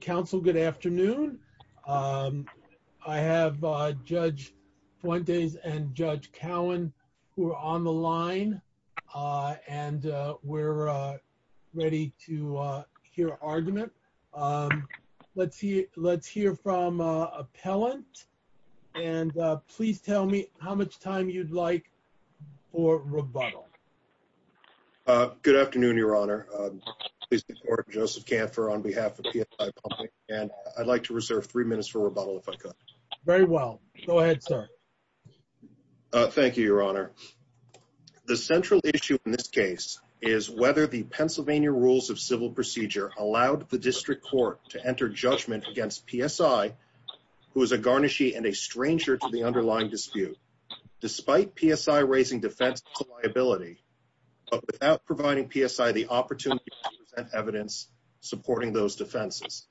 Council, good afternoon. I have Judge Fuentes and Judge Cowan who are on the line and we're ready to hear argument. Let's hear from Appellant and please tell me how much time you'd like for rebuttal. Good afternoon, Your Honor. Joseph Kanfer on behalf of PSI and I'd like to reserve three minutes for rebuttal if I could. Very well, go ahead, sir. Thank you, Your Honor. The central issue in this case is whether the Pennsylvania Rules of Civil Procedure allowed the District Court to enter judgment against PSI who is a garnishee and a stranger to the underlying dispute despite PSI raising defense to liability but without providing PSI the opportunity to present evidence supporting those defenses.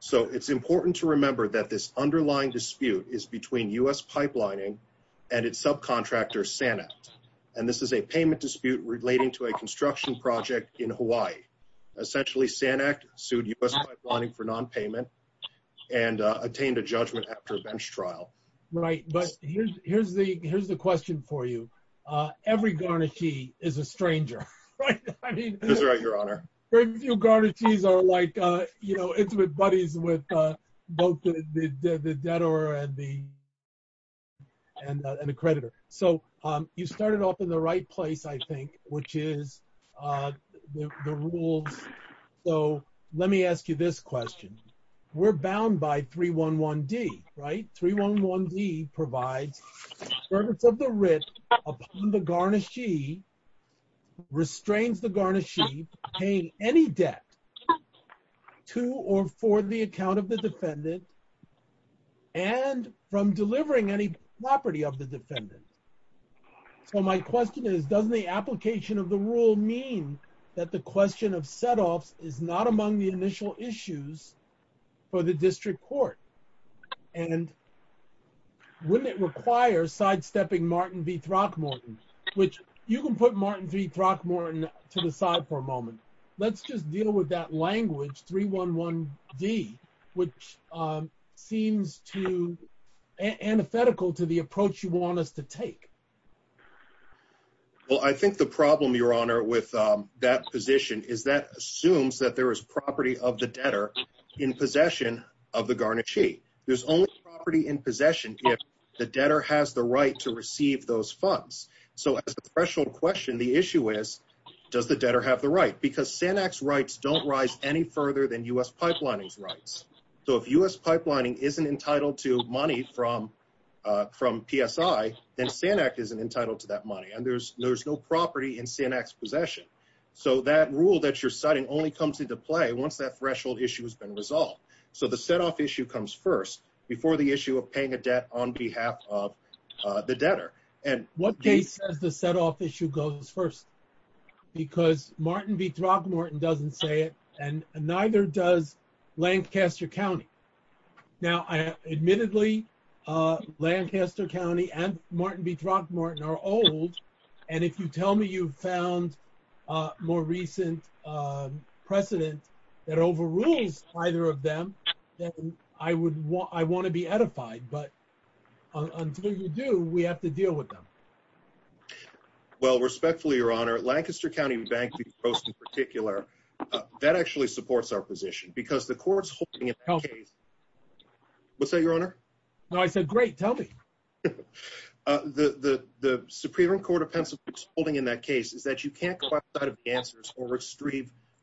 So it's important to remember that this underlying dispute is between US Pipelining and its subcontractor Sanact and this is a payment dispute relating to a construction project in Hawaii. Essentially, Sanact sued US Pipelining for non-payment and attained a judgment after a bench trial. Right, but here's the question for you. Every garnishee is a stranger, right? That's right, Your Honor. Very few garnishees are like intimate buddies with both the debtor and the creditor. So you started off in the right place, which is the rules. So let me ask you this question. We're bound by 311D, right? 311D provides service of the writ upon the garnishee, restrains the garnishee paying any debt to or for the account of the defendant and from delivering any property of the defendant. So my question is, doesn't the application of the rule mean that the question of setoffs is not among the initial issues for the district court? And wouldn't it require sidestepping Martin v. Throckmorton, which you can put Martin v. Throckmorton to the side for a moment. Let's just deal with that language 311D, which seems too antithetical to the approach you want us to take. Well, I think the problem, Your Honor, with that position is that assumes that there is property of the debtor in possession of the garnishee. There's only property in possession if the debtor has the right to receive those funds. So as a threshold question, the issue is, does the debtor have the right? Because SANAC's rights don't rise any further than U.S. isn't entitled to that money. And there's no property in SANAC's possession. So that rule that you're citing only comes into play once that threshold issue has been resolved. So the setoff issue comes first before the issue of paying a debt on behalf of the debtor. And what case does the setoff issue goes first? Because Martin v. Throckmorton doesn't say it, neither does Lancaster County. Now, admittedly, Lancaster County and Martin v. Throckmorton are old. And if you tell me you've found a more recent precedent that overrules either of them, I want to be edified. But until you do, we have to deal with them. Well, respectfully, Your Honor, Lancaster County Bank in particular, that actually supports our position because the court's holding it. What's that, Your Honor? No, I said, great. Tell me. The Supreme Court of Pennsylvania's holding in that case is that you can't go outside of answers or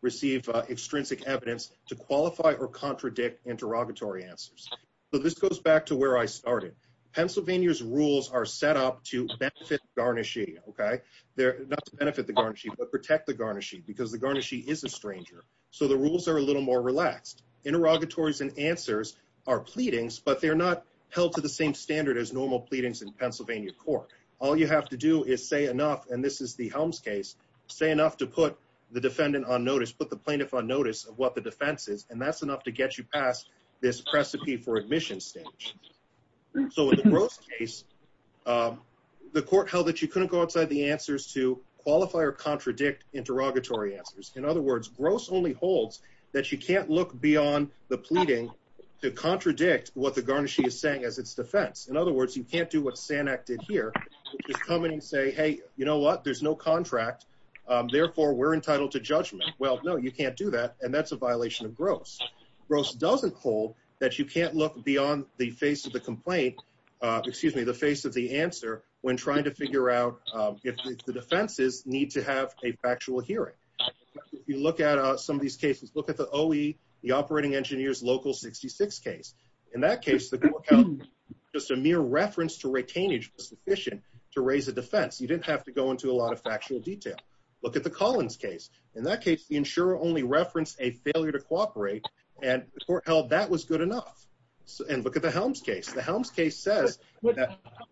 receive extrinsic evidence to qualify or contradict interrogatory answers. So this goes back to where I started. Pennsylvania's rules are set up to benefit the garnishee, okay? Not to benefit the garnishee, but protect the garnishee because the garnishee is a stranger. So the rules are a little more relaxed. Interrogatories and answers are pleadings, but they're not held to the same standard as normal pleadings in Pennsylvania court. All you have to do is say enough, and this is the Helms case, say enough to put the defendant on notice, put the plaintiff on notice of what the defense is, and that's enough to get you past this precipice for admission stage. So in the Gross case, the court held that you couldn't go outside the answers to qualify or contradict interrogatory answers. In other words, Gross only holds that you can't look beyond the pleading to contradict what the garnishee is saying as its defense. In other words, you can't do what Sanak did here, which is come in and say, hey, you know what? There's no contract, therefore we're entitled to judgment. Well, no, you can't do that, and that's a violation of Gross. Gross doesn't hold that you can't look beyond the face of the complaint, excuse me, the face of the answer when trying to figure out if the defenses need to have a factual hearing. If you look at some of these cases, look at the OE, the operating engineer's local 66 case. In that case, the court held just a mere reference to retainage was sufficient to raise a defense. You didn't have to go into a lot of factual detail. Look at the Collins case. In that case, the insurer only referenced a failure to cooperate, and the court held that was good enough. And look at the Helms case. The Helms case says...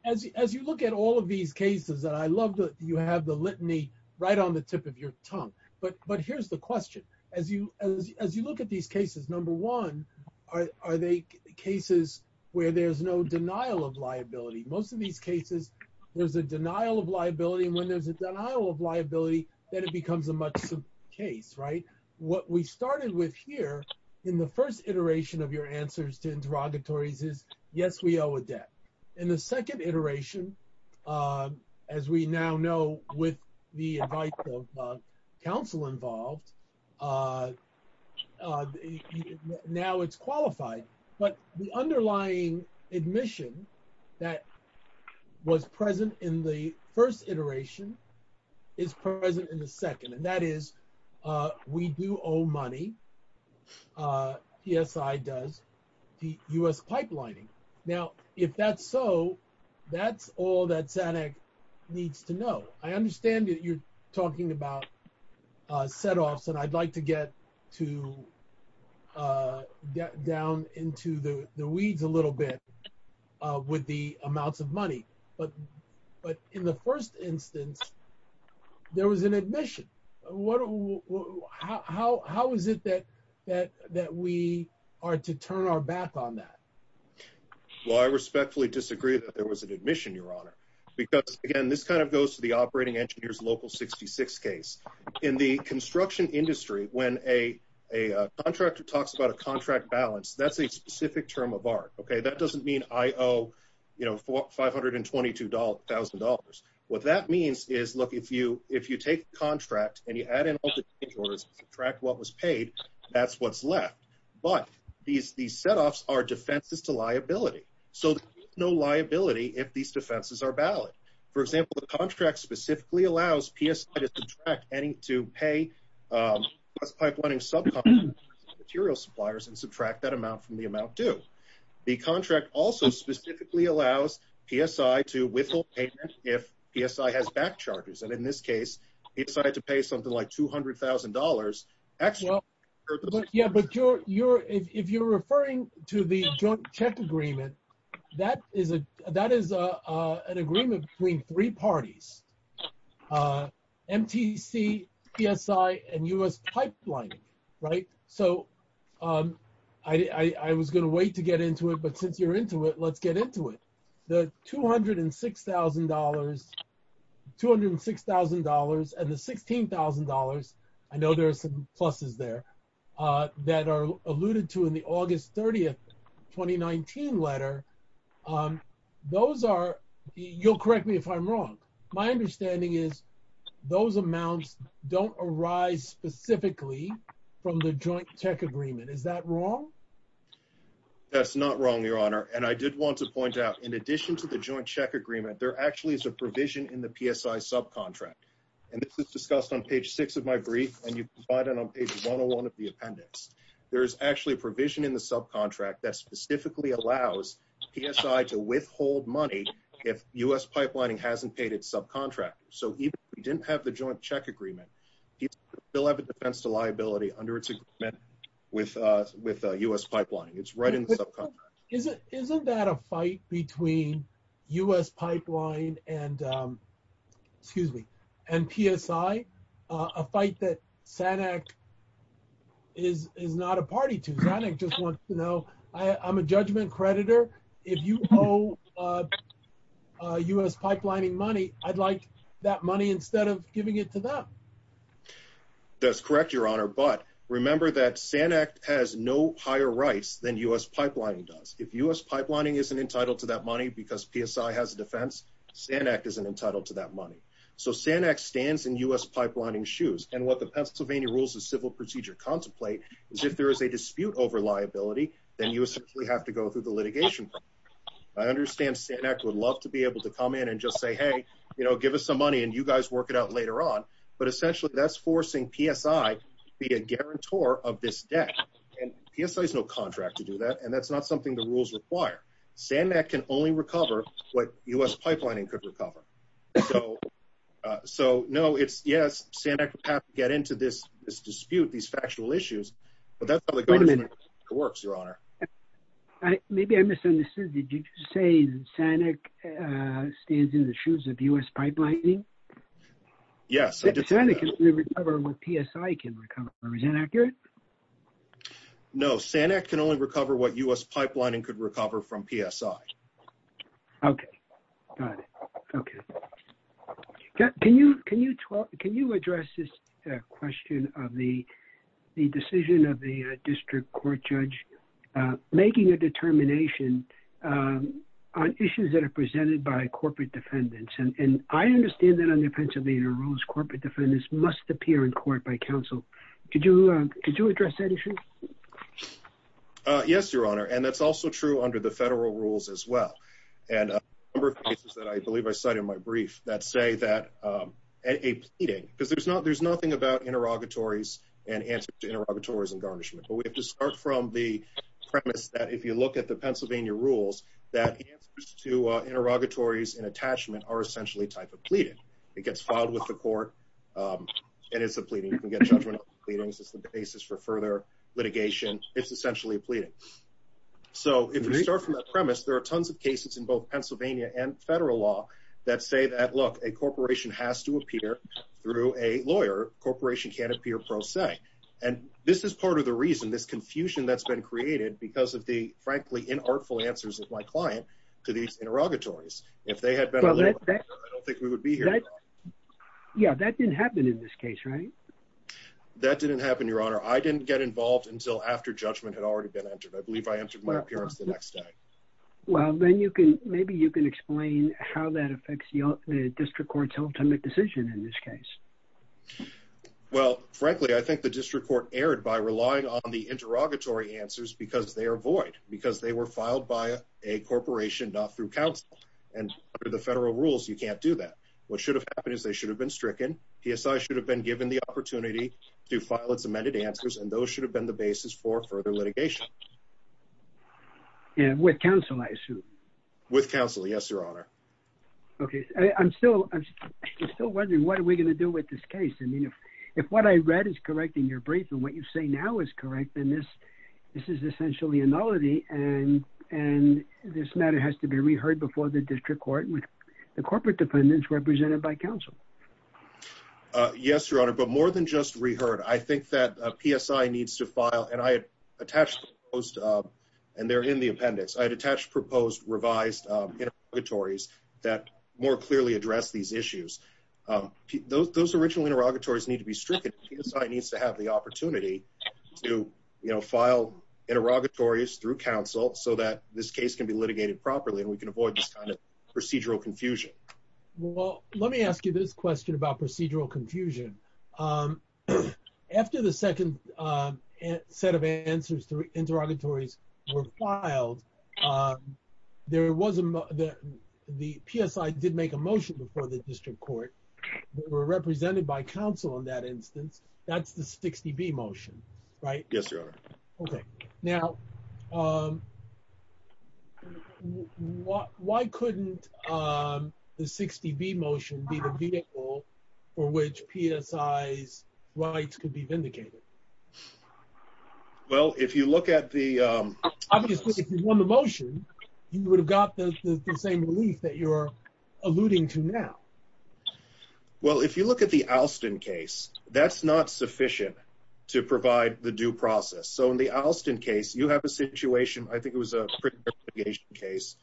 As you look at all of these cases, and I love that you have the litany right on the tip of your tongue, but here's the question. As you look at these cases, number one, are they cases where there's no denial of liability? Most of these cases, there's a denial of liability, and when there's a denial of liability, then it becomes a much simpler case, right? What we started with here in the first iteration of your answers to interrogatories is, yes, we owe a debt. In the second iteration, as we now know with the advice of counsel involved, now it's qualified, but the underlying admission that was present in the first iteration is present in the second, and that is we do owe money, PSI does, to U.S. pipelining. Now, if that's so, that's all that SANEC needs to know. I understand that you're talking about setoffs, and I'd like to get down into the weeds a little bit with the amounts of money, but in the first instance, there was an admission. How is it that we are to turn our back on that? Well, I respectfully disagree that there was an admission, your honor, because again, this kind of goes to the operating engineer's local 66 case. In the construction industry, when a contractor talks about a contract balance, that's a specific term of art. That doesn't mean I owe $522,000. What that means is, look, if you take the contract and you add in all the contours and subtract what was paid, that's what's left, but these setoffs are defenses to liability, so there's no liability if these defenses are valid. For example, the contract specifically allows PSI to subtract any to pay U.S. pipelining subcontractors and material suppliers and subtract that amount from the amount due. The contract also specifically allows PSI to withhold payment if PSI has back charges, and in this case, he decided to pay something like $200,000. Yeah, but if you're referring to the joint check agreement, that is an agreement between three parties, MTC, PSI, and U.S. pipelining, right? So I was going to wait to get into it, but since you're into it, let's get into it. The $206,000 and the $16,000, I know there are some pluses there, that are alluded to in the August 30, 2019 letter, those are, you'll correct me if I'm wrong, from the joint check agreement. Is that wrong? That's not wrong, your honor, and I did want to point out, in addition to the joint check agreement, there actually is a provision in the PSI subcontract, and this is discussed on page six of my brief, and you can find it on page 101 of the appendix. There is actually a provision in the subcontract that specifically allows PSI to withhold money if U.S. pipelining hasn't paid its subcontractors, so even if we didn't have the joint check agreement, they'll have a defense to under its agreement with U.S. pipelining. It's right in the subcontract. Isn't that a fight between U.S. pipeline and PSI, a fight that SANEC is not a party to? SANEC just wants to know, I'm a judgment creditor. If you owe U.S. pipelining money, I'd like that money instead of giving it to them. That's correct, your honor, but remember that SANEC has no higher rights than U.S. pipelining does. If U.S. pipelining isn't entitled to that money because PSI has a defense, SANEC isn't entitled to that money, so SANEC stands in U.S. pipelining's shoes, and what the Pennsylvania Rules of Civil Procedure contemplate is if there is a dispute over liability, then you essentially have to go through the litigation. I understand SANEC would love to be able to come in and just give us some money and you guys work it out later on, but essentially that's forcing PSI to be a guarantor of this debt, and PSI has no contract to do that, and that's not something the rules require. SANEC can only recover what U.S. pipelining could recover, so no, it's yes, SANEC would have to get into this dispute, these factual issues, but that's how the government works, your honor. Maybe I misunderstood. Did you say SANEC stands in the shoes of U.S. pipelining? Yes. SANEC can only recover what PSI can recover, is that accurate? No, SANEC can only recover what U.S. pipelining could recover from PSI. Okay, got it, okay. Can you address this question of the decision of the district court judge making a determination on issues that are presented by corporate defendants, and I understand that under Pennsylvania rules, corporate defendants must appear in court by counsel. Could you address that issue? Yes, your honor, and that's also true under the federal rules as well, and a number of cases that I believe I cite in my brief that say that a pleading, because there's nothing about interrogatories and answer to interrogatories and garnishment, but we have to start from the premise that if you look at the Pennsylvania rules, that answers to interrogatories and attachment are essentially a type of pleading. It gets filed with the court, and it's a pleading. You can get judgmental pleadings as the basis for further litigation. It's essentially a pleading, so if you start from that premise, there are tons of cases in both Pennsylvania and federal law that say that, look, a corporation has to appear through a lawyer. Corporation can't appear pro se, and this is part of the reason, this confusion that's been created because of the, frankly, inartful answers of my client to these interrogatories. If they had been, I don't think we would be here. Yeah, that didn't happen in this case, right? That didn't happen, your honor. I didn't get involved until after judgment had already been entered. I believe I entered my How that affects the district court's ultimate decision in this case? Well, frankly, I think the district court erred by relying on the interrogatory answers because they are void, because they were filed by a corporation, not through counsel, and under the federal rules, you can't do that. What should have happened is they should have been stricken. PSI should have been given the opportunity to file its amended answers, and those should have been the basis for further litigation. And with counsel, I assume? With counsel, yes, your honor. Okay. I'm still wondering what are we going to do with this case? I mean, if what I read is correct in your brief and what you say now is correct, then this is essentially a nullity, and this matter has to be reheard before the district court with the corporate defendants represented by counsel. Yes, your honor, but more than just I attached proposed, and they're in the appendix, I had attached proposed revised interrogatories that more clearly address these issues. Those original interrogatories need to be stricken. PSI needs to have the opportunity to file interrogatories through counsel so that this case can be litigated properly, and we can avoid this kind of procedural confusion. Well, let me ask you this question about procedural confusion. After the second set of answers to interrogatories were filed, the PSI did make a motion before the district court that were represented by counsel in that instance. That's the 60B motion, right? Yes, your honor. Okay, now why couldn't the 60B motion be the vehicle for which PSI's rights could be vindicated? Well, if you look at the... Obviously, if you won the motion, you would have got the same relief that you're alluding to now. Well, if you look at the Alston case, that's not sufficient to provide the due process. So, you have a situation, I think it was a case,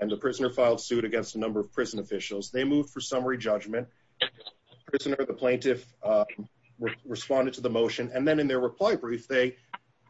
and the prisoner filed suit against a number of prison officials. They moved for summary judgment. The plaintiff responded to the motion, and then in their reply brief, they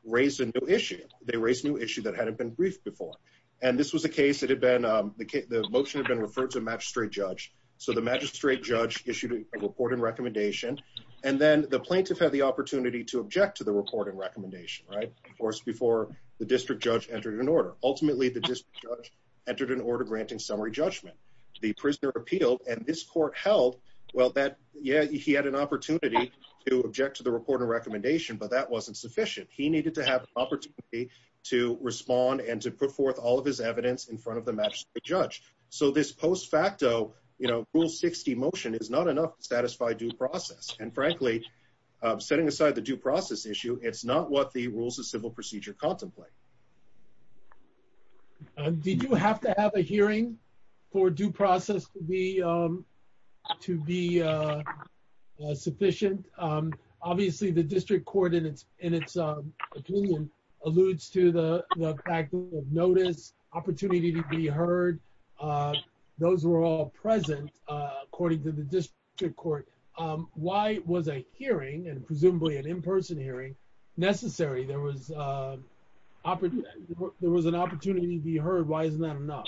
raised a new issue. They raised a new issue that hadn't been briefed before. And this was a case that had been... The motion had been referred to a magistrate judge. So, the magistrate judge issued a report and recommendation, and then the plaintiff had the opportunity to object to the report and recommendation, right? Of course, before the district judge entered an order. Ultimately, the district judge entered an order granting summary judgment. The prisoner appealed, and this court held... Well, he had an opportunity to object to the report and recommendation, but that wasn't sufficient. He needed to have an opportunity to respond and to put forth all of his evidence in front of the magistrate judge. So, this post facto rule 60 motion is not enough to satisfy due process. And frankly, setting aside the due process issue, it's not what the rules of civil procedure contemplate. Did you have to have a hearing for due process to be sufficient? Obviously, the district court, in its opinion, alludes to the fact of notice, opportunity to be heard. Why was a hearing, and presumably an in-person hearing, necessary? There was an opportunity to be heard. Why isn't that enough?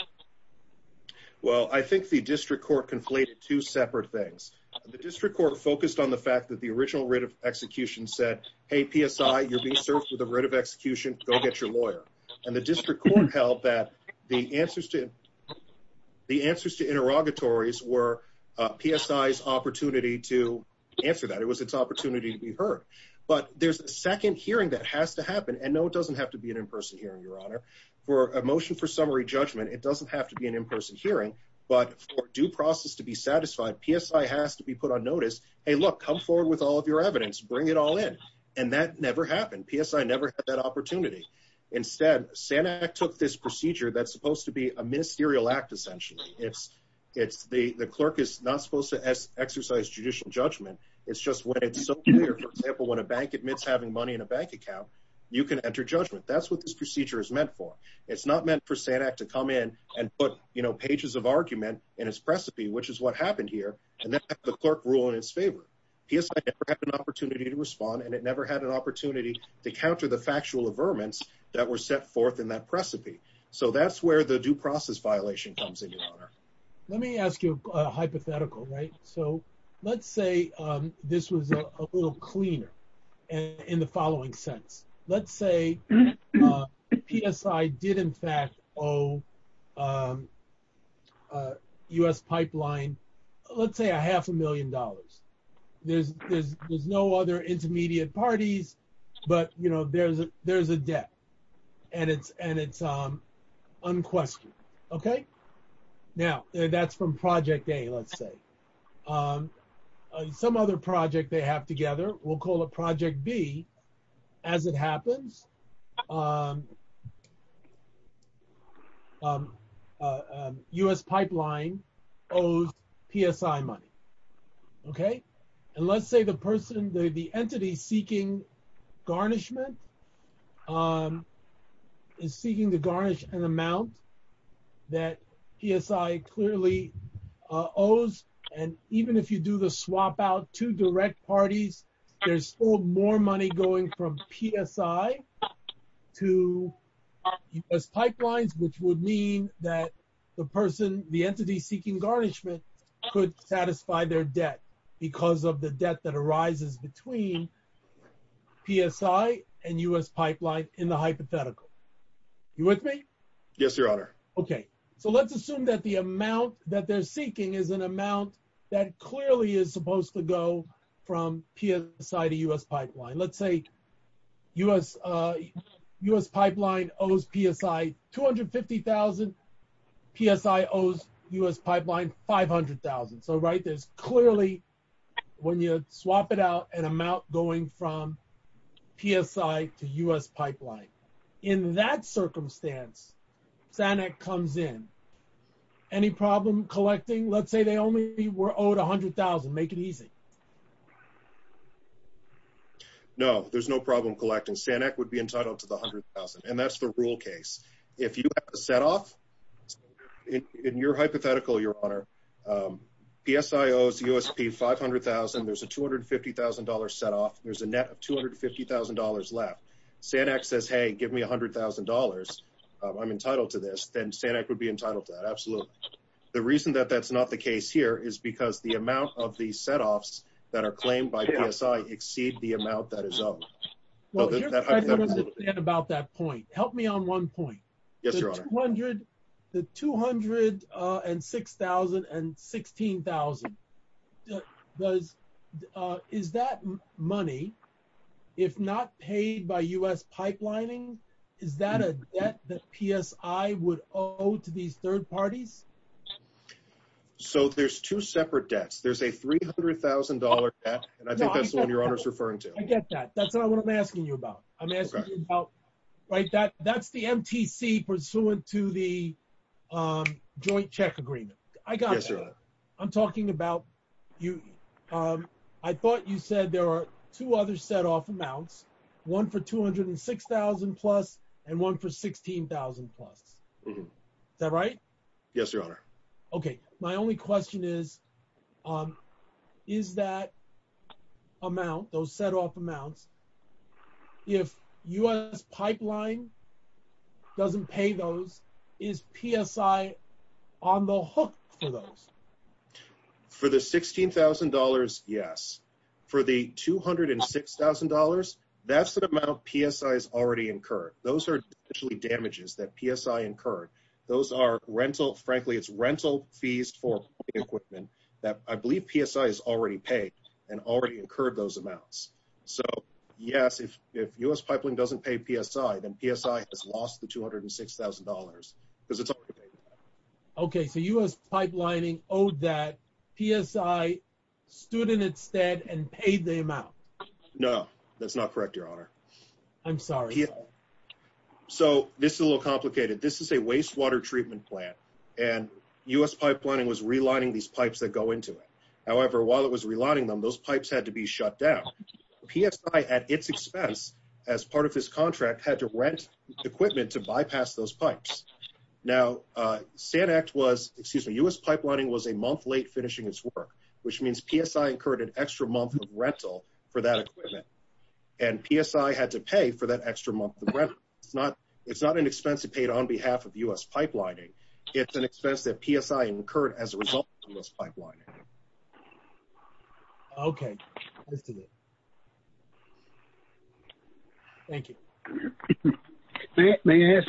Well, I think the district court conflated two separate things. The district court focused on the fact that the original writ of execution said, hey, PSI, you're being served with a writ of execution. Go get your lawyer. And the district court held that the answers to interrogatories were PSI's opportunity to answer that. It was its opportunity to be heard. But there's a second hearing that has to happen. And no, it doesn't have to be an in-person hearing, Your Honor. For a motion for summary judgment, it doesn't have to be an in-person hearing. But for due process to be satisfied, PSI has to be put on notice. Hey, look, come forward with all of your evidence. Bring it all in. And that never happened. PSI never had that opportunity. Instead, SANAC took this procedure that's supposed to be a ministerial act, essentially. The clerk is not supposed to exercise judicial judgment. It's just when it's so clear, for example, when a bank admits having money in a bank account, you can enter judgment. That's what this procedure is meant for. It's not meant for SANAC to come in and put pages of argument in its precipice, which is what happened here, and then have the clerk rule in its favor. PSI never had an opportunity to respond, and it never had an opportunity to counter the factual averments that were set forth in that precipice. So that's where the due process violation comes in, Your Honor. Let me ask you a hypothetical, right? So let's say this was a little cleaner in the following sense. Let's say PSI did, in fact, owe US Pipeline, let's say, a half a million dollars. There's no other intermediate parties, but there's a debt, and it's unquestioned, okay? Now, that's from Project A, let's say. Some other project they have together, we'll call it Project B. As it happens, US Pipeline owes PSI money, okay? And let's say the entity seeking garnishment is seeking to garnish an amount that PSI clearly owes, and even if you do the swap-out, two direct parties, there's still more money going from PSI to US Pipeline, which would mean that the entity seeking garnishment could satisfy their debt, because of the debt that arises between PSI and US Pipeline in the hypothetical. You with me? Yes, Your Honor. Okay. So let's assume that the amount that they're seeking is an amount that clearly is supposed to go from PSI to US Pipeline. Let's say US Pipeline owes PSI 250,000, PSI owes US Pipeline 500,000. So, right, there's clearly, when you swap it out, an amount going from PSI to US Pipeline. In that circumstance, SANEC comes in. Any problem collecting? Let's say they only were owed $100,000. Make it easy. No, there's no problem collecting. SANEC would be entitled to the $100,000, and that's the rule case. If you have a set-off, in your hypothetical, Your Honor, PSI owes US Pipeline 500,000. There's a $250,000 set-off. There's a net of $250,000 left. SANEC says, hey, give me $100,000. I'm entitled to this. Then SANEC would be entitled to that. Absolutely. The reason that that's not the case here is because the amount of these set-offs that are claimed by PSI exceed the amount that is owed. Well, here's what I want to say about that point. Help me on one point. Yes, Your Honor. The $200,000 and $6,000 and $16,000, is that money, if not paid by US Pipelining, is that a debt that PSI would owe to these third parties? So there's two separate debts. There's a $300,000 debt, and I think that's the one Your Honor's referring to. I get that. That's not what I'm asking you about. I'm asking you about, right, that's the MTC pursuant to the joint check agreement. I got that. I'm talking about you. I thought you said there are two other set-off amounts, one for $206,000 plus, and one for $16,000 plus. Is that right? Yes, Your Honor. Okay. My only question is, is that amount, those set-off amounts, if US Pipeline doesn't pay those, is PSI on the hook for those? For the $16,000, yes. For the $206,000, that's the amount PSI has already incurred. Those are damages that PSI incurred. Those are rental, frankly, it's rental fees for equipment that I believe PSI has already paid and already incurred those amounts. So yes, if US Pipeline doesn't pay PSI, then PSI has lost the $206,000 because it's already paid. Okay, so US Pipelining owed that, PSI stood in its stead and paid the amount. No, that's not correct, Your Honor. I'm sorry. So this is a little complicated. This is a wastewater treatment plant, and US Pipelining was relining these pipes that go into it. However, while it was relining them, those pipes had to be shut down. PSI, at its expense, as part of his contract, had to rent equipment to bypass those pipes. Now, US Pipelining was a month late finishing its work, which means PSI incurred an extra month of rental for that equipment, and PSI had to pay for that extra month of rental. It's not an expense it paid on behalf of US Pipelining, it's an expense that PSI incurred as a result of US Pipelining. Okay, that's it. Thank you. May I ask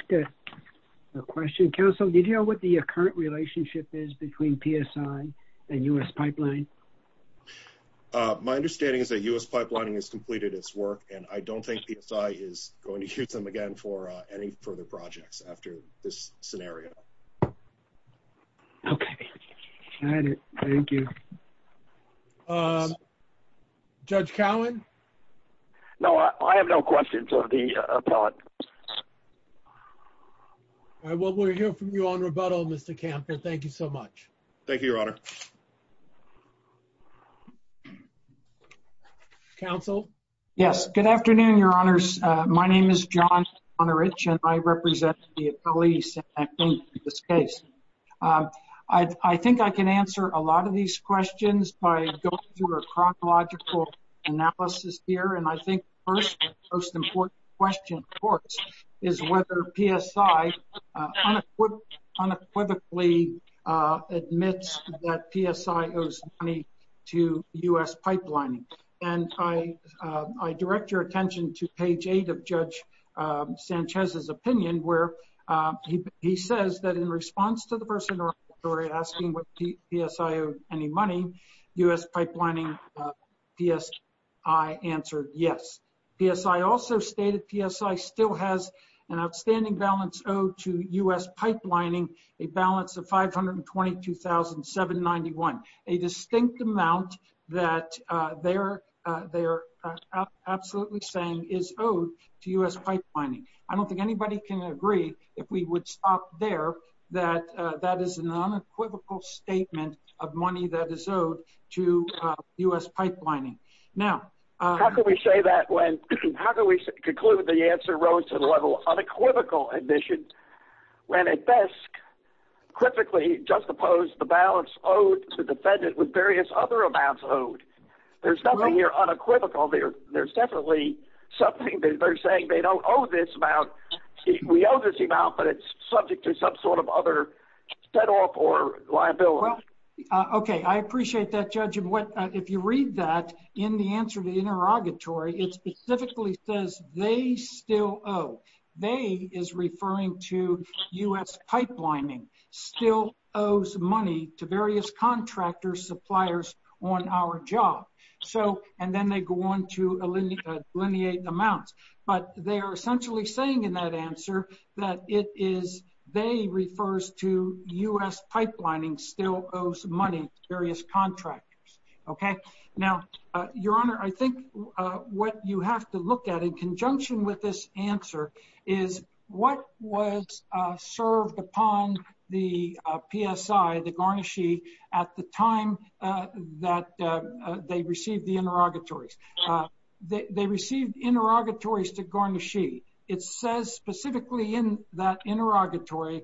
a question? Counsel, did you know what the current relationship is between PSI and US Pipeline? My understanding is that US Pipelining has completed its work, and I don't think PSI is going to use them again for any further projects after this scenario. Okay, got it. Thank you. Judge Cowan? No, I have no questions of the appellant. All right, well, we'll hear from you on rebuttal, Mr. Kamper. Thank you so much. Thank you, Your Honor. Counsel? Yes, good afternoon, Your Honors. My name is John Konarich, and I represent the appellees in this case. I think I can answer a lot of these questions by going through a chronological analysis here, and I think the first and most important question, of course, is whether PSI unequivocally admits that PSI owes money to US Pipelining. And I direct your opinion where he says that in response to the person in our story asking whether PSI owed any money, US Pipelining, PSI answered yes. PSI also stated PSI still has an outstanding balance owed to US Pipelining, a balance of $522,791, a distinct amount that they are absolutely saying is owed to US Pipelining. I don't think anybody can agree, if we would stop there, that that is an unequivocal statement of money that is owed to US Pipelining. Now, how can we say that when, how can we conclude the answer rose to the level of unequivocal admission, when at best, perfectly juxtapose the balance owed to the defendant with various other amounts owed? There's nothing here unequivocal. There's definitely something that they're saying, they don't owe this amount. We owe this amount, but it's subject to some sort of other set-off or liability. Okay, I appreciate that, Judge. If you read that in the answer to the interrogatory, it specifically says they still owe. They is referring to US Pipelining still owes money to various contractor suppliers on our job. So, and then they go on to delineate amounts, but they're essentially saying in that answer that it is, they refers to US Pipelining still owes money to various contractors. Okay. Now, Your Honor, I think what you have to look at in conjunction with this answer is what was served upon the PSI, the garnishee, at the time that they received the interrogatories. They received interrogatories to garnishee. It says specifically in that interrogatory,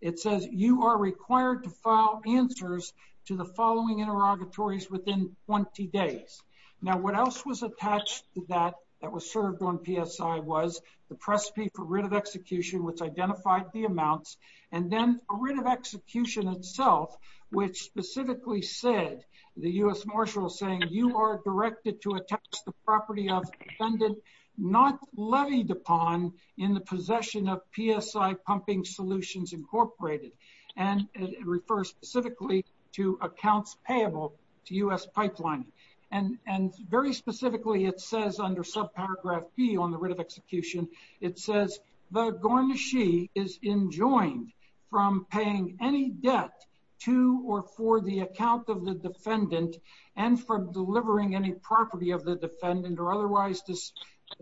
it says you are required to file answers to the following interrogatories within 20 days. Now, what else was attached to that that was served on PSI was the precipe for writ of execution, which identified the amounts and then a writ of execution itself, which specifically said the US Marshal saying you are directed to attach the property of defendant not levied upon in the possession of PSI Pumping Solutions Incorporated. And it refers specifically to accounts payable to US Pipelining. And very specifically, it says under subparagraph P on the writ of execution, it says the garnishee is enjoined from paying any debt to or for the account of the defendant and for delivering any property of the defendant or otherwise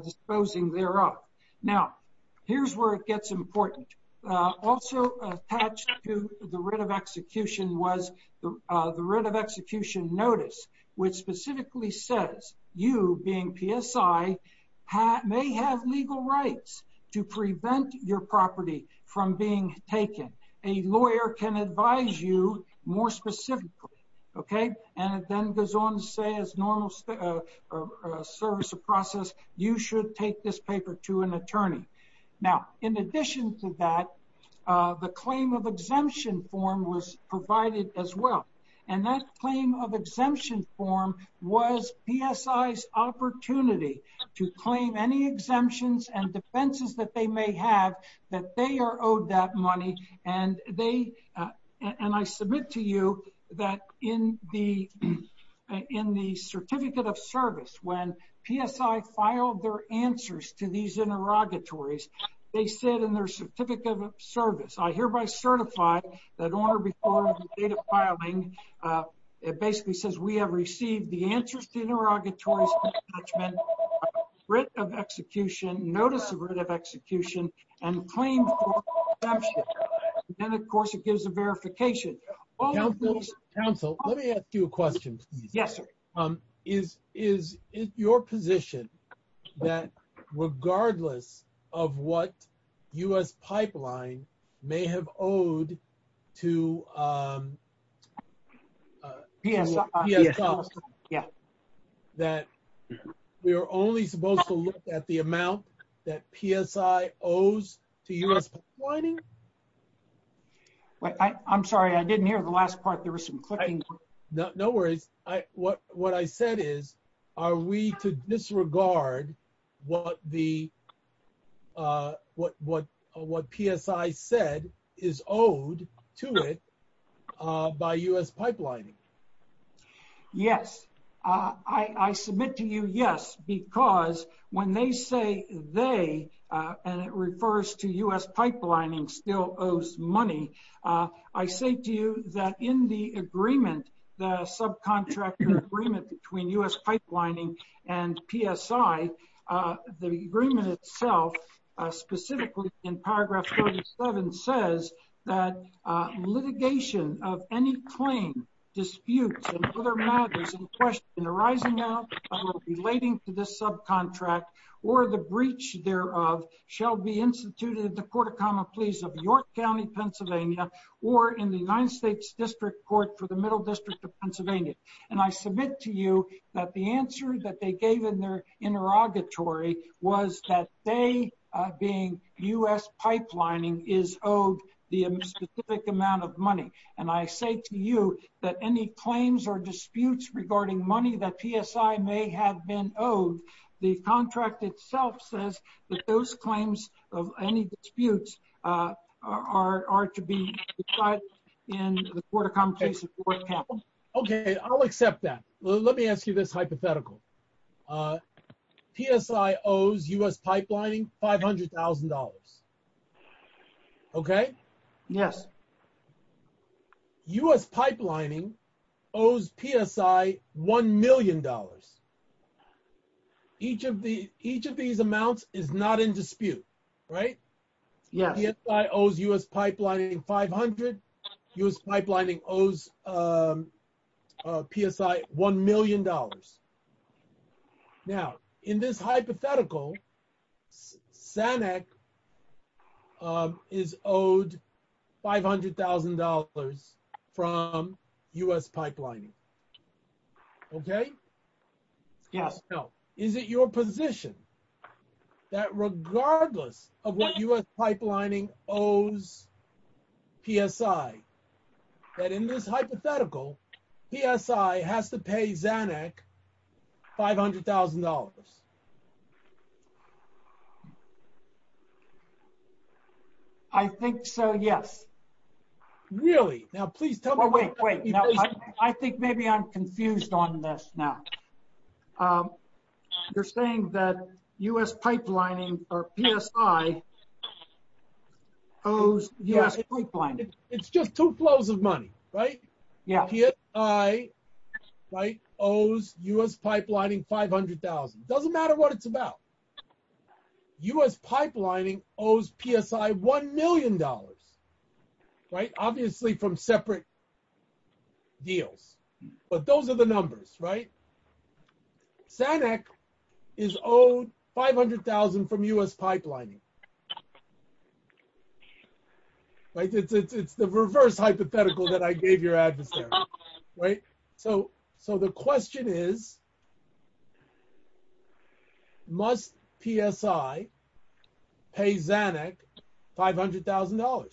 disposing thereof. Now, here's where it gets important. Also attached to the writ of execution was the writ of execution notice, which specifically says you being PSI may have legal rights to prevent your property from being taken. A lawyer can advise you more specifically, okay? And it then goes on to say as normal service of process, you should take this paper to an attorney. Now, in addition to that, the claim of exemption form was provided as well. And that claim of exemption form was PSI's opportunity to claim any exemptions and defenses that they may have that they are owed that money. And I submit to you that in the certificate of service when PSI filed their answers to these service, I hereby certify that on or before the date of filing, it basically says we have received the answers to the interrogatories, writ of execution, notice of writ of execution, and claim for exemption. And of course, it gives a verification. Council, let me ask you a question. Yes, sir. Is it your position that regardless of what US pipeline may have owed to PSI that we are only supposed to look at the amount that PSI owes to US pipelining? I'm sorry. I didn't hear the last part. There was some clicking. No worries. What I said is, are we to disregard what PSI said is owed to it by US they, and it refers to US pipelining still owes money. I say to you that in the agreement, the subcontractor agreement between US pipelining and PSI, the agreement itself, specifically in paragraph 37 says that litigation of any claim disputes and other matters in arising now relating to this subcontract or the breach thereof shall be instituted in the court of common pleas of York County, Pennsylvania, or in the United States District Court for the Middle District of Pennsylvania. And I submit to you that the answer that they gave in their interrogatory was that they, being US pipelining, is owed the specific amount of money. And I say to you that any claims or disputes regarding money that PSI may have been owed, the contract itself says that those claims of any disputes are to be in the court of common case. Okay, I'll accept that. Let me ask you this hypothetical. PSI owes US pipelining $500,000. Okay. Yes. US pipelining owes PSI $1 million. Each of these amounts is not in dispute, right? Yes. PSI owes US pipelining 500. US pipelining owes PSI $1 million. Now, in this hypothetical, Zanuck is owed $500,000 from US pipelining. Okay? Yes. So, is it your position that regardless of what US pipelining owes PSI, that in this hypothetical, PSI has to pay Zanuck $500,000? I think so, yes. Really? Now, please tell me- Wait, wait. I think maybe I'm confused on this now. You're saying that US pipelining or PSI owes US pipelining? It's just two flows of money, right? Yeah. PSI owes US pipelining 500,000. It doesn't matter what it's about. US pipelining owes PSI $1 million, right? Obviously from separate deals, but those are the numbers, right? Zanuck is owed 500,000 from US pipelining. It's the reverse hypothetical that I gave your adversary, right? So, the question is, must PSI pay Zanuck $500,000?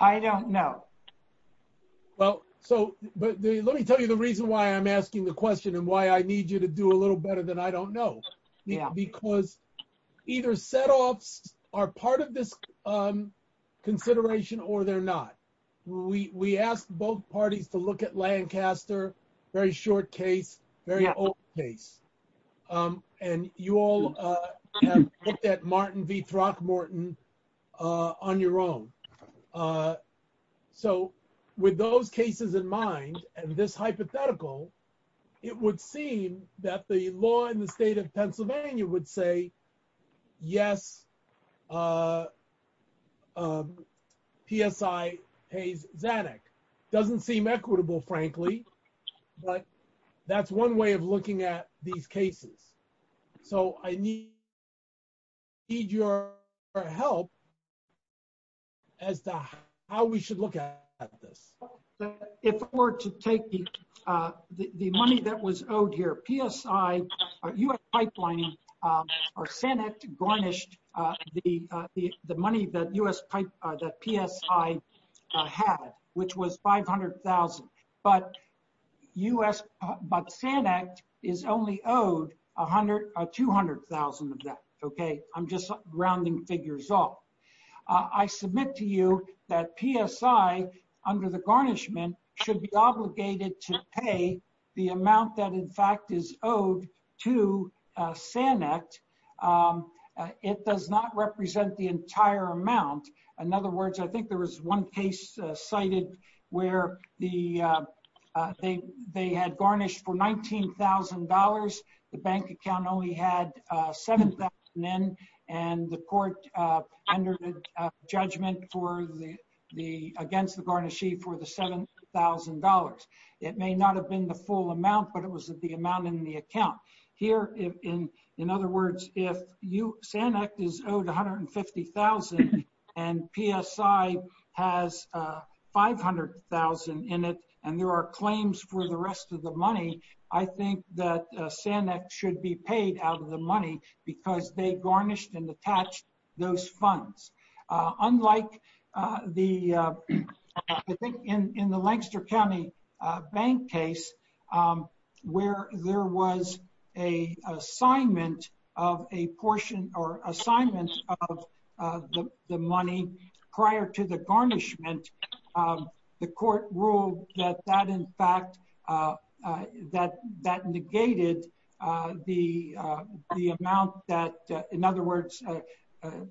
I don't know. Well, so, but let me tell you the reason why I'm asking the question and why I need you to do a little better than I don't know. Because either setoffs are part of this consideration or they're not. We asked both parties to look at Lancaster, very short case, very old case. And you all have looked at Martin v. Throckmorton on your own. So, with those cases in mind and this hypothetical, it would seem that the law in the state of Pennsylvania would say, yes, PSI pays Zanuck. Doesn't seem equitable, frankly, but that's one way of looking at these cases. So, I need your help as to how we should look at this. If we're to take the money that was owed here, PSI, US pipelining, or Zanuck garnished the money that PSI had, which was $500,000. But Zanuck is only owed $200,000 of that, okay? I'm just rounding figures off. I submit to you that PSI, under the garnishment, should be obligated to pay the amount that, in fact, is owed to Zanuck. It does not represent the entire amount. In other words, I think there was one case cited where they had garnished for $19,000. The bank account only had $7,000 in and the court under the judgment against the garnishee for the $7,000. It may not have been the full amount, but it was the amount in the account. Here, in other words, if Zanuck is owed $150,000 and PSI has $500,000 in it and there are claims for the rest of the money, I think that Zanuck should be paid out of the money because they garnished and attached those funds. Unlike in the Lancaster County Bank case, where there was an assignment of the money prior to the garnishment, the amount that, in other words, the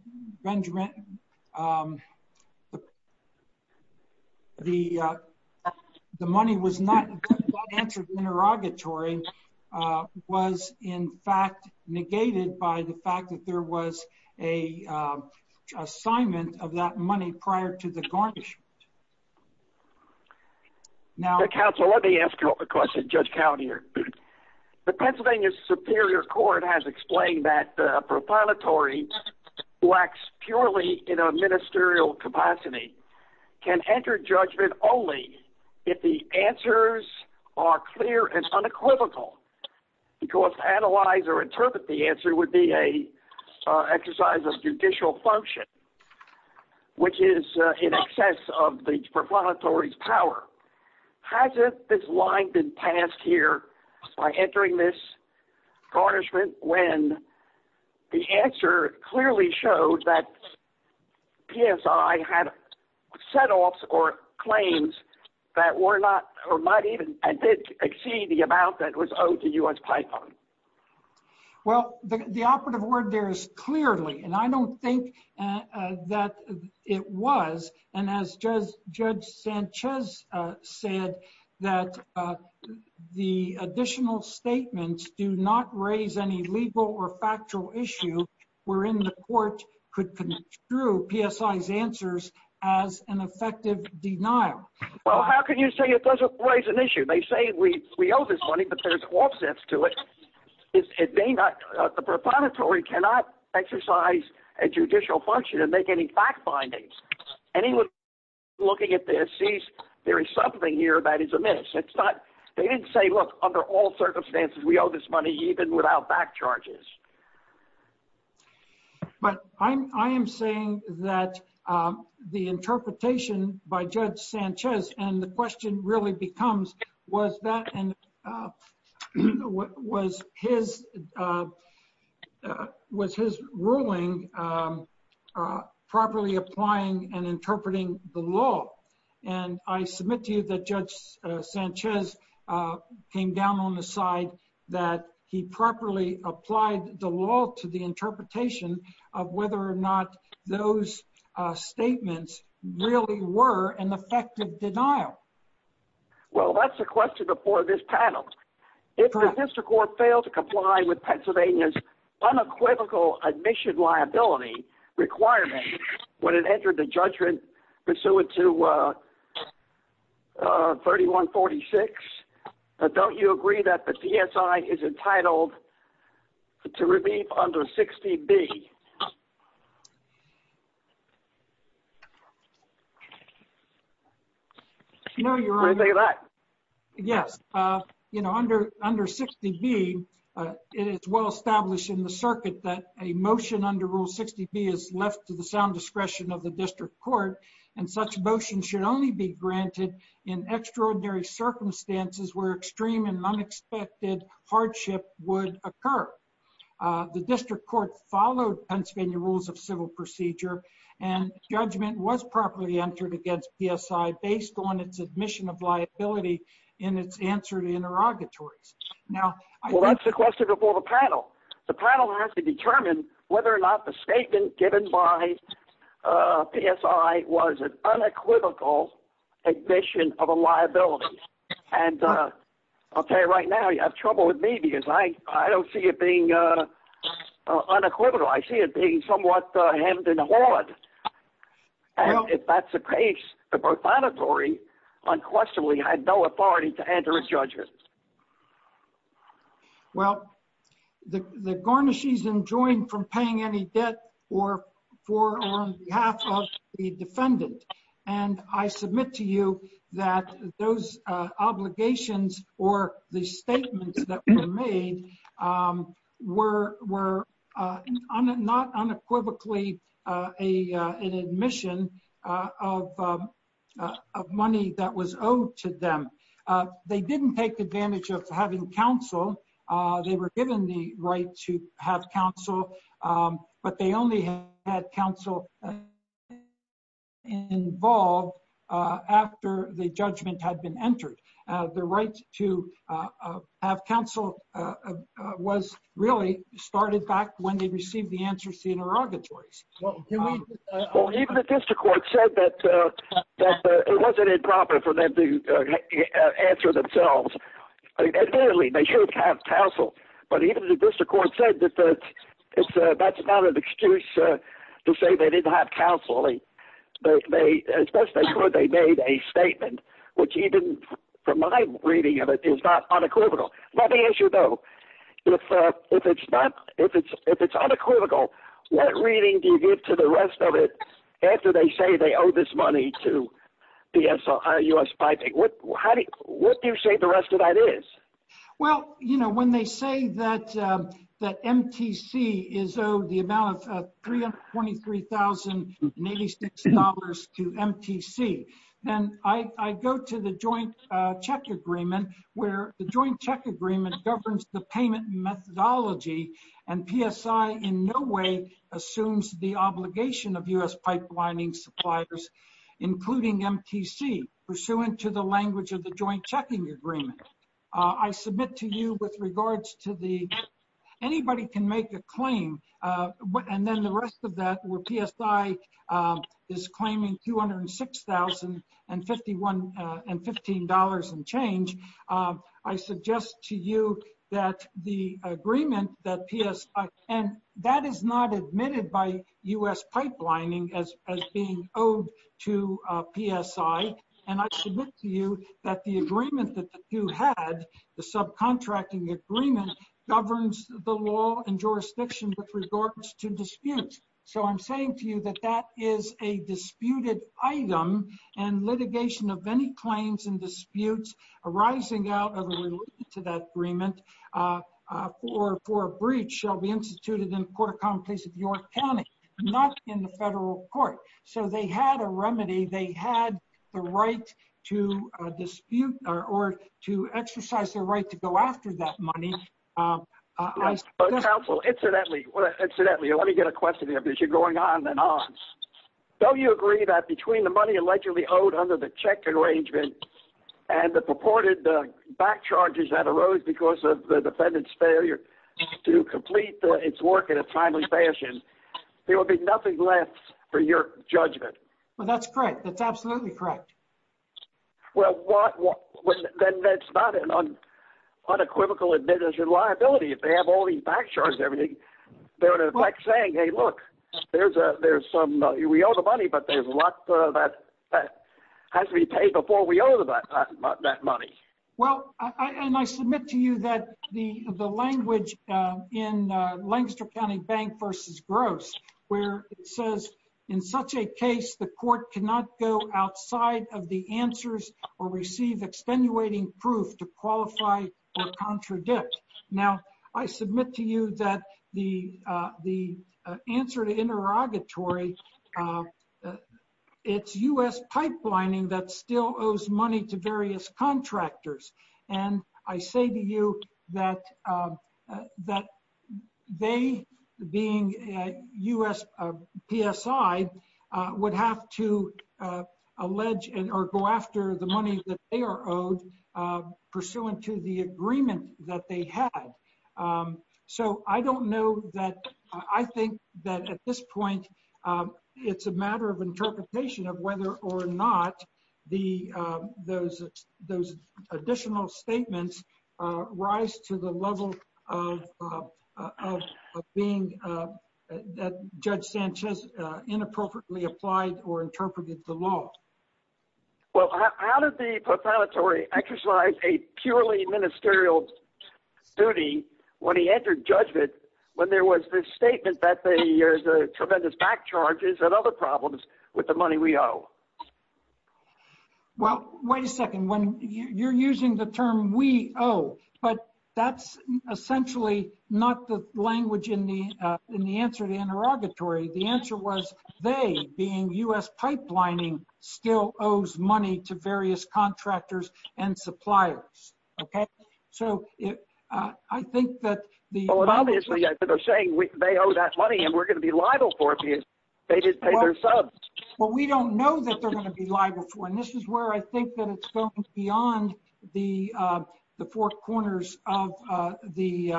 money was not answered interrogatory was, in fact, negated by the fact that there was an assignment of that money prior to the garnishment. Now, counsel, let me ask a question. Judge Cownie here. The Pennsylvania Superior Court has explained that a proclamatory who acts purely in a ministerial capacity can enter judgment only if the answers are clear and unequivocal because to analyze or interpret the answer would be an exercise of judicial function, which is in excess of the proclamatory's power. Hasn't this line been passed here by entering this garnishment when the answer clearly showed that PSI had setoffs or claims that were not or might even exceed the amount that was owed to U.S. I don't think that it was, and as Judge Sanchez said, that the additional statements do not raise any legal or factual issue wherein the court could construe PSI's answers as an effective denial. Well, how can you say it doesn't raise an issue? They say we owe this money, but there's offsets to it. The proclamatory cannot exercise a judicial function and make any fact findings. Anyone looking at this sees there is something here that is amiss. They didn't say, look, under all circumstances, we owe this money even without back charges. But I am saying that the interpretation by Judge Sanchez and the question really becomes, was his ruling properly applying and interpreting the law? And I submit to you that Judge Sanchez came down on the side that he properly applied the law to the interpretation of whether or not those statements really were an effective denial. Well, that's the question before this panel. If the district court failed to comply with Pennsylvania's unequivocal admission liability requirement when it entered the judgment pursuant to 3146, don't you agree that the PSI is entitled to review under 60B? No, Your Honor. Say that. Yes. Under 60B, it's well established in the circuit that a motion under Rule 60B is left to the sound discretion of the district court, and such motion should only be granted in extraordinary circumstances where extreme and unexpected hardship would occur. The district court followed Pennsylvania rules of civil procedure, and judgment was properly entered against PSI based on its admission of liability in its answer to interrogatories. Now, that's the question before the panel. The panel has to determine whether or not the statement given by PSI was an unequivocal admission of a liability. And I'll tell you right now, you have trouble with me because I don't see it being unequivocal. I see it being somewhat hemmed and hawed. And if that's the case, the profanatory unquestionably had no authority to enter a judgment. Well, the garnish is enjoined from paying any debt or on behalf of the defendant. And I submit to you that those obligations or the statements that were made were not unequivocally an admission of money that was owed to them. They didn't take advantage of having counsel. They were given the right to have counsel, but they only had counsel involved after the judgment had been entered. The right to have counsel was really started back when they received the answers to interrogatories. Well, even the district court said that it wasn't improper for them to answer themselves. Admittedly, they should have counsel, but even the district court said that that's not an excuse to say they didn't have counsel. They made a statement, which even from my reading of it, is not unequivocal. Let me ask you, though. If it's unequivocal, what reading do you give to the rest of it after they say they owe this money to the SISP? What do you say the rest of that is? Well, when they say that MTC is owed the amount of $323,086 to MTC, then I go to the joint check agreement, where the joint check agreement governs the payment methodology, and PSI in no way assumes the obligation of U.S. pipelining suppliers, including MTC, pursuant to the language of the joint checking agreement. I submit to you with regards to the anybody can make a claim, and then the rest of that, where PSI is claiming $206,015 in change, I suggest to you that the agreement that PSI, and that is not admitted by U.S. pipelining as being owed to PSI, and I submit to you that the agreement that the two had, the subcontracting agreement, governs the law and jurisdiction with regards to disputes. So I'm saying to you that that is a disputed item, and litigation of any claims and disputes arising out of a relation to that agreement for a breach shall be instituted in the court of common place of York County, not in the federal court. So they had a remedy. They had the right to dispute or to exercise their right to go after that money. Council, incidentally, incidentally, let me get a question here because you're going on and on. Don't you agree that between the money allegedly owed under the check arrangement and the purported back charges that arose because of the defendant's failure to complete its work in a timely fashion, there will be nothing left for your judgment? Well, that's correct. That's absolutely correct. Well, then that's not an unequivocal admission of liability if they have all these back charges and everything. They're in effect saying, hey, look, there's some, we owe the money, but there's a lot that has to be paid before we owe that money. Well, and I submit to you that the language in Lancaster County Bank versus Gross, where it says in such a case, the court cannot go outside of the answers or receive extenuating proof to qualify or contradict. Now, I submit to you that the answer to interrogatory, it's US pipelining that still owes money to various contractors. And I say to you that they being US PSI would have to allege or go after the money that they are owed pursuant to the agreement that they had. So I don't know that, I think that at this point, it's a matter of interpretation of whether or not those additional statements rise to the level of being that Judge Sanchez inappropriately applied or interpreted the law. Well, how did the proclamatory exercise a purely ministerial duty when he entered judgment when there was this statement that there's a tremendous back charges and other problems with the money we owe? Well, wait a second, when you're using the term we owe, but that's essentially not the language in the answer to interrogatory. The answer was they being US pipelining still owes money to various contractors and suppliers. Okay. So I think that obviously they're saying they owe that money and we're going to be liable for it because they didn't pay their subs. Well, we don't know that they're going to be liable for it. And this is where I think that it's going beyond the four corners of the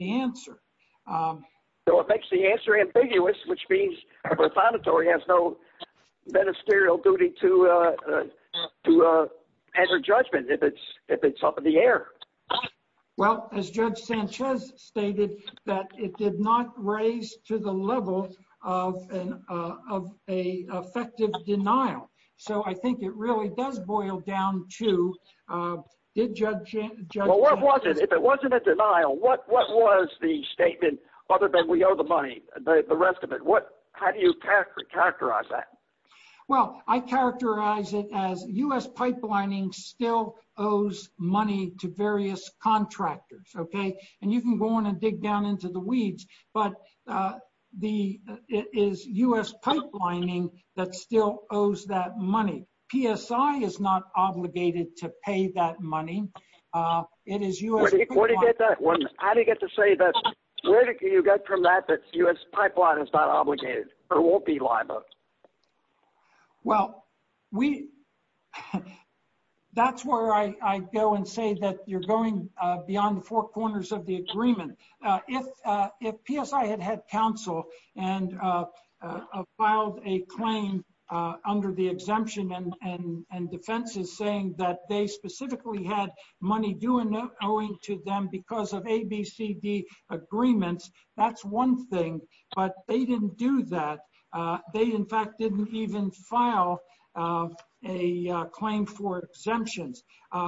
answer. So it makes the answer ambiguous, which means a proclamatory has no ministerial duty to enter judgment if it's up the air. Well, as Judge Sanchez stated that it did not raise to the level of an effective denial. So I think it really does boil down to, did Judge Sanchez... Well, what was it? If it wasn't a denial, what was the statement other than we owe the money, the rest of it? How do you characterize that? Well, I characterize it as US pipelining still owes money to various contractors. Okay. And you can go on and dig down into the weeds, but it is US pipelining that still owes that money. PSI is not obligated to pay that money. It is US... How do you get to say that? Where do you get that? Well, that's where I go and say that you're going beyond the four corners of the agreement. If PSI had had counsel and filed a claim under the exemption and defenses saying that they specifically had money due and owing to them because of ABCD agreements, that's one thing, but they didn't do that. They, in fact, didn't even file a claim for exemptions.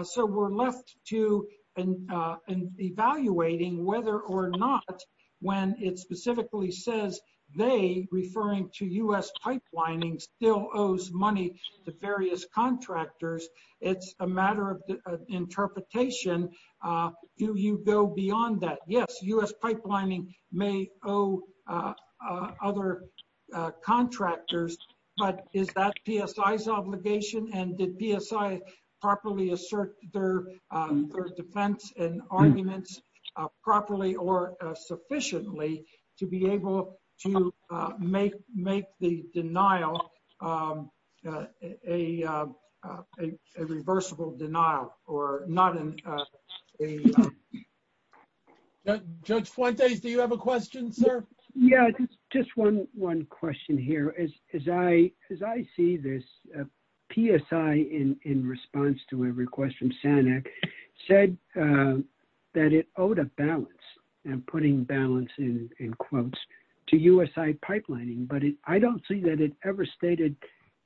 So we're left to evaluating whether or not when it specifically says they, referring to US pipelining, still owes money to various contractors. It's a matter of interpretation. Do you go beyond that? Yes, US pipelining may owe other contractors, but is that PSI's obligation? And did PSI properly assert their defense and arguments properly or sufficiently to be able to make the denial a reversible denial or not a... Judge Fuentes, do you have a question, sir? Yeah, just one question here. As I see this, PSI, in response to a request from SANEC, said that it owed a balance and putting balance in quotes to USI pipelining, but I don't see that it ever stated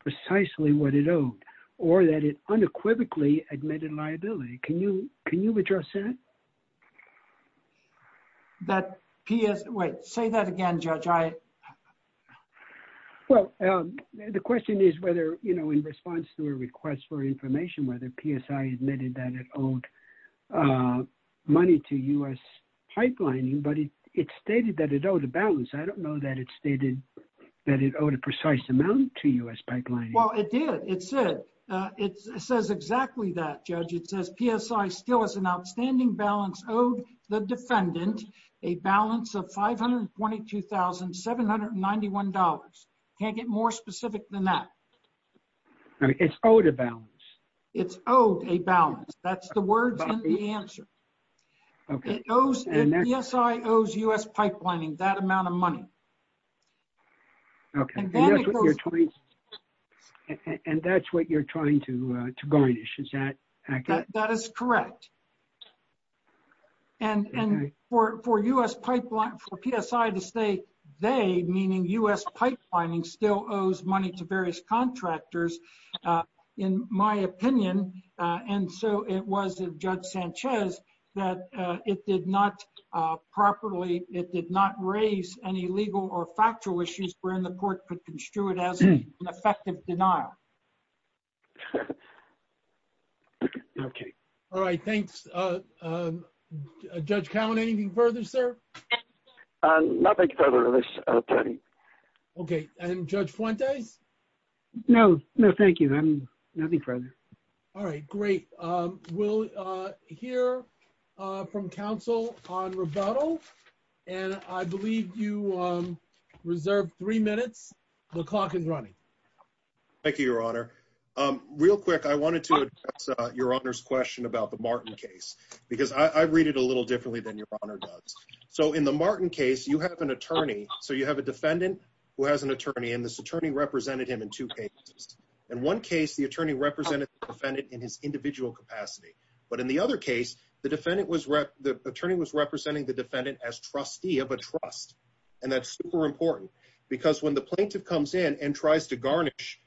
precisely what it owed or that it unequivocally admitted liability. Can you address that? That PS... Wait, say that again, Judge. Well, the question is whether in response to a request for information, whether PSI admitted that it owed money to US pipelining, but it stated that it owed a balance. I don't know that it stated that it owed a precise amount to US pipelining. Well, it did. It said, it says exactly that, Judge. It says PSI still has an outstanding balance owed the defendant, a balance of $522,791. Can't get more specific than that. It's owed a balance. It's owed a balance. That's the words and the answer. Okay. PSI owes US pipelining that amount of money. Okay. And that's what you're trying to garnish. Is that accurate? That is correct. And for US pipeline, for PSI to say they, meaning US pipelining still owes money to various contractors, in my opinion, and so it was a Judge Sanchez that it did not properly, it did not raise any legal or factual issues wherein the court could construe it as an effective denial. Okay. All right. Thanks. Judge Cowan, anything further, sir? Nothing further, Attorney. Okay. And Judge Fuentes? No. No, thank you. Nothing further. All right. Great. We'll hear from counsel on rebuttal, and I believe you reserved three minutes. The clock is running. Thank you, Your Honor. Real quick, I wanted to address Your Honor's question about the Martin case, because I read it a little differently than Your Honor does. So in the Martin case, you have an attorney. So you have a defendant who has an attorney, and this attorney represented him in two cases. In one case, the attorney represented the defendant in his individual capacity. But in the other case, the attorney was representing the defendant as trustee of a trust. And that's super important, because when the plaintiff comes in and tries to garnish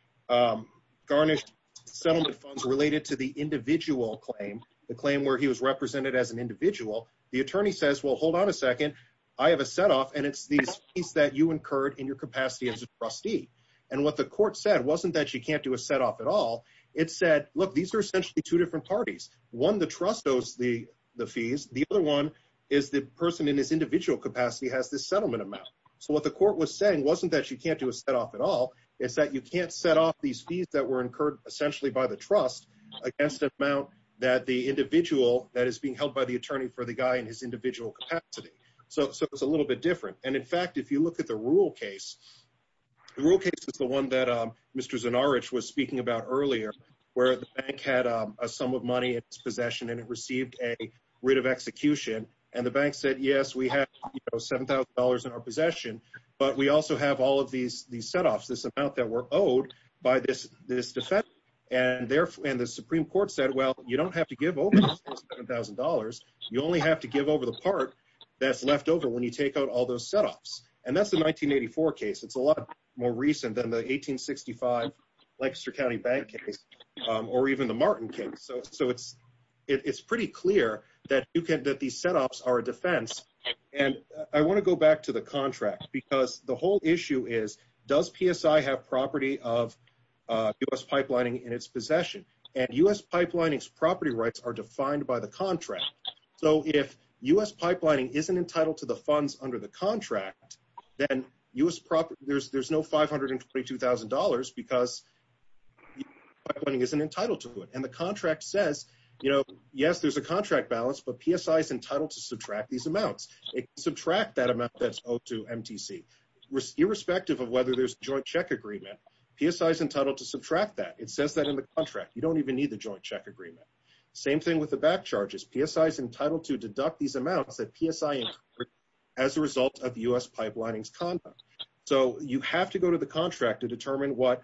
settlement funds related to the individual claim, the claim where he was represented as an individual, the attorney says, well, hold on a second. I have a setoff, and it's these fees that you incurred in your capacity as a trustee. And what the court said wasn't that you can't do a setoff at all. It said, look, these are essentially two different parties. One, the trust owes the fees. The other one is the person in his individual capacity has this settlement amount. So what the court was saying wasn't that you can't do a setoff at all. It's that you can't set off these fees that were against the amount that the individual that is being held by the attorney for the guy in his individual capacity. So it's a little bit different. And in fact, if you look at the rule case, the rule case is the one that Mr. Zanarich was speaking about earlier, where the bank had a sum of money in his possession, and it received a writ of execution. And the bank said, yes, we have $7,000 in our possession, but we also have all of these setoffs, this amount that we're owed by this defense. And the Supreme Court said, well, you don't have to give over $7,000. You only have to give over the part that's left over when you take out all those setoffs. And that's the 1984 case. It's a lot more recent than the 1865 Lancaster County Bank case, or even the Martin case. So it's pretty clear that these setoffs are a defense. And I want to go back to the contract, because the whole issue is, does PSI have property of U.S. pipelining in its possession? And U.S. pipelining's property rights are defined by the contract. So if U.S. pipelining isn't entitled to the funds under the contract, then there's no $522,000 because U.S. pipelining isn't entitled to it. And the contract says, yes, there's a contract balance, but PSI's entitled to subtract these amounts. It can subtract that amount that's owed to MTC. Irrespective of whether there's a joint check agreement, PSI's entitled to subtract that. It says that in the contract. You don't even need the joint check agreement. Same thing with the back charges. PSI's entitled to deduct these amounts that PSI incurred as a result of U.S. pipelining's conduct. So you have to go to the contract to determine what,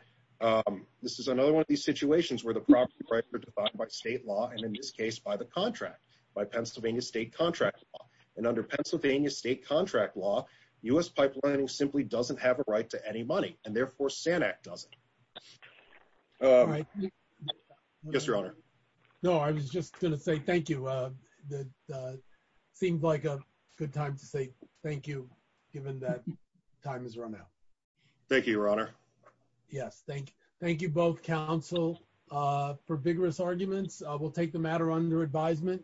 this is another one of these situations where the property rights are defined by state law, and in this case, by the contract, by Pennsylvania state contract law. And under Pennsylvania state contract law, U.S. pipelining simply doesn't have a right to any money. And therefore, SANAC doesn't. Yes, your honor. No, I was just going to say thank you. Seems like a good time to say thank you, given that time has run out. Thank you, your honor. Yes, thank you. Thank you both, counsel, for vigorous arguments. We'll take the matter under advisement.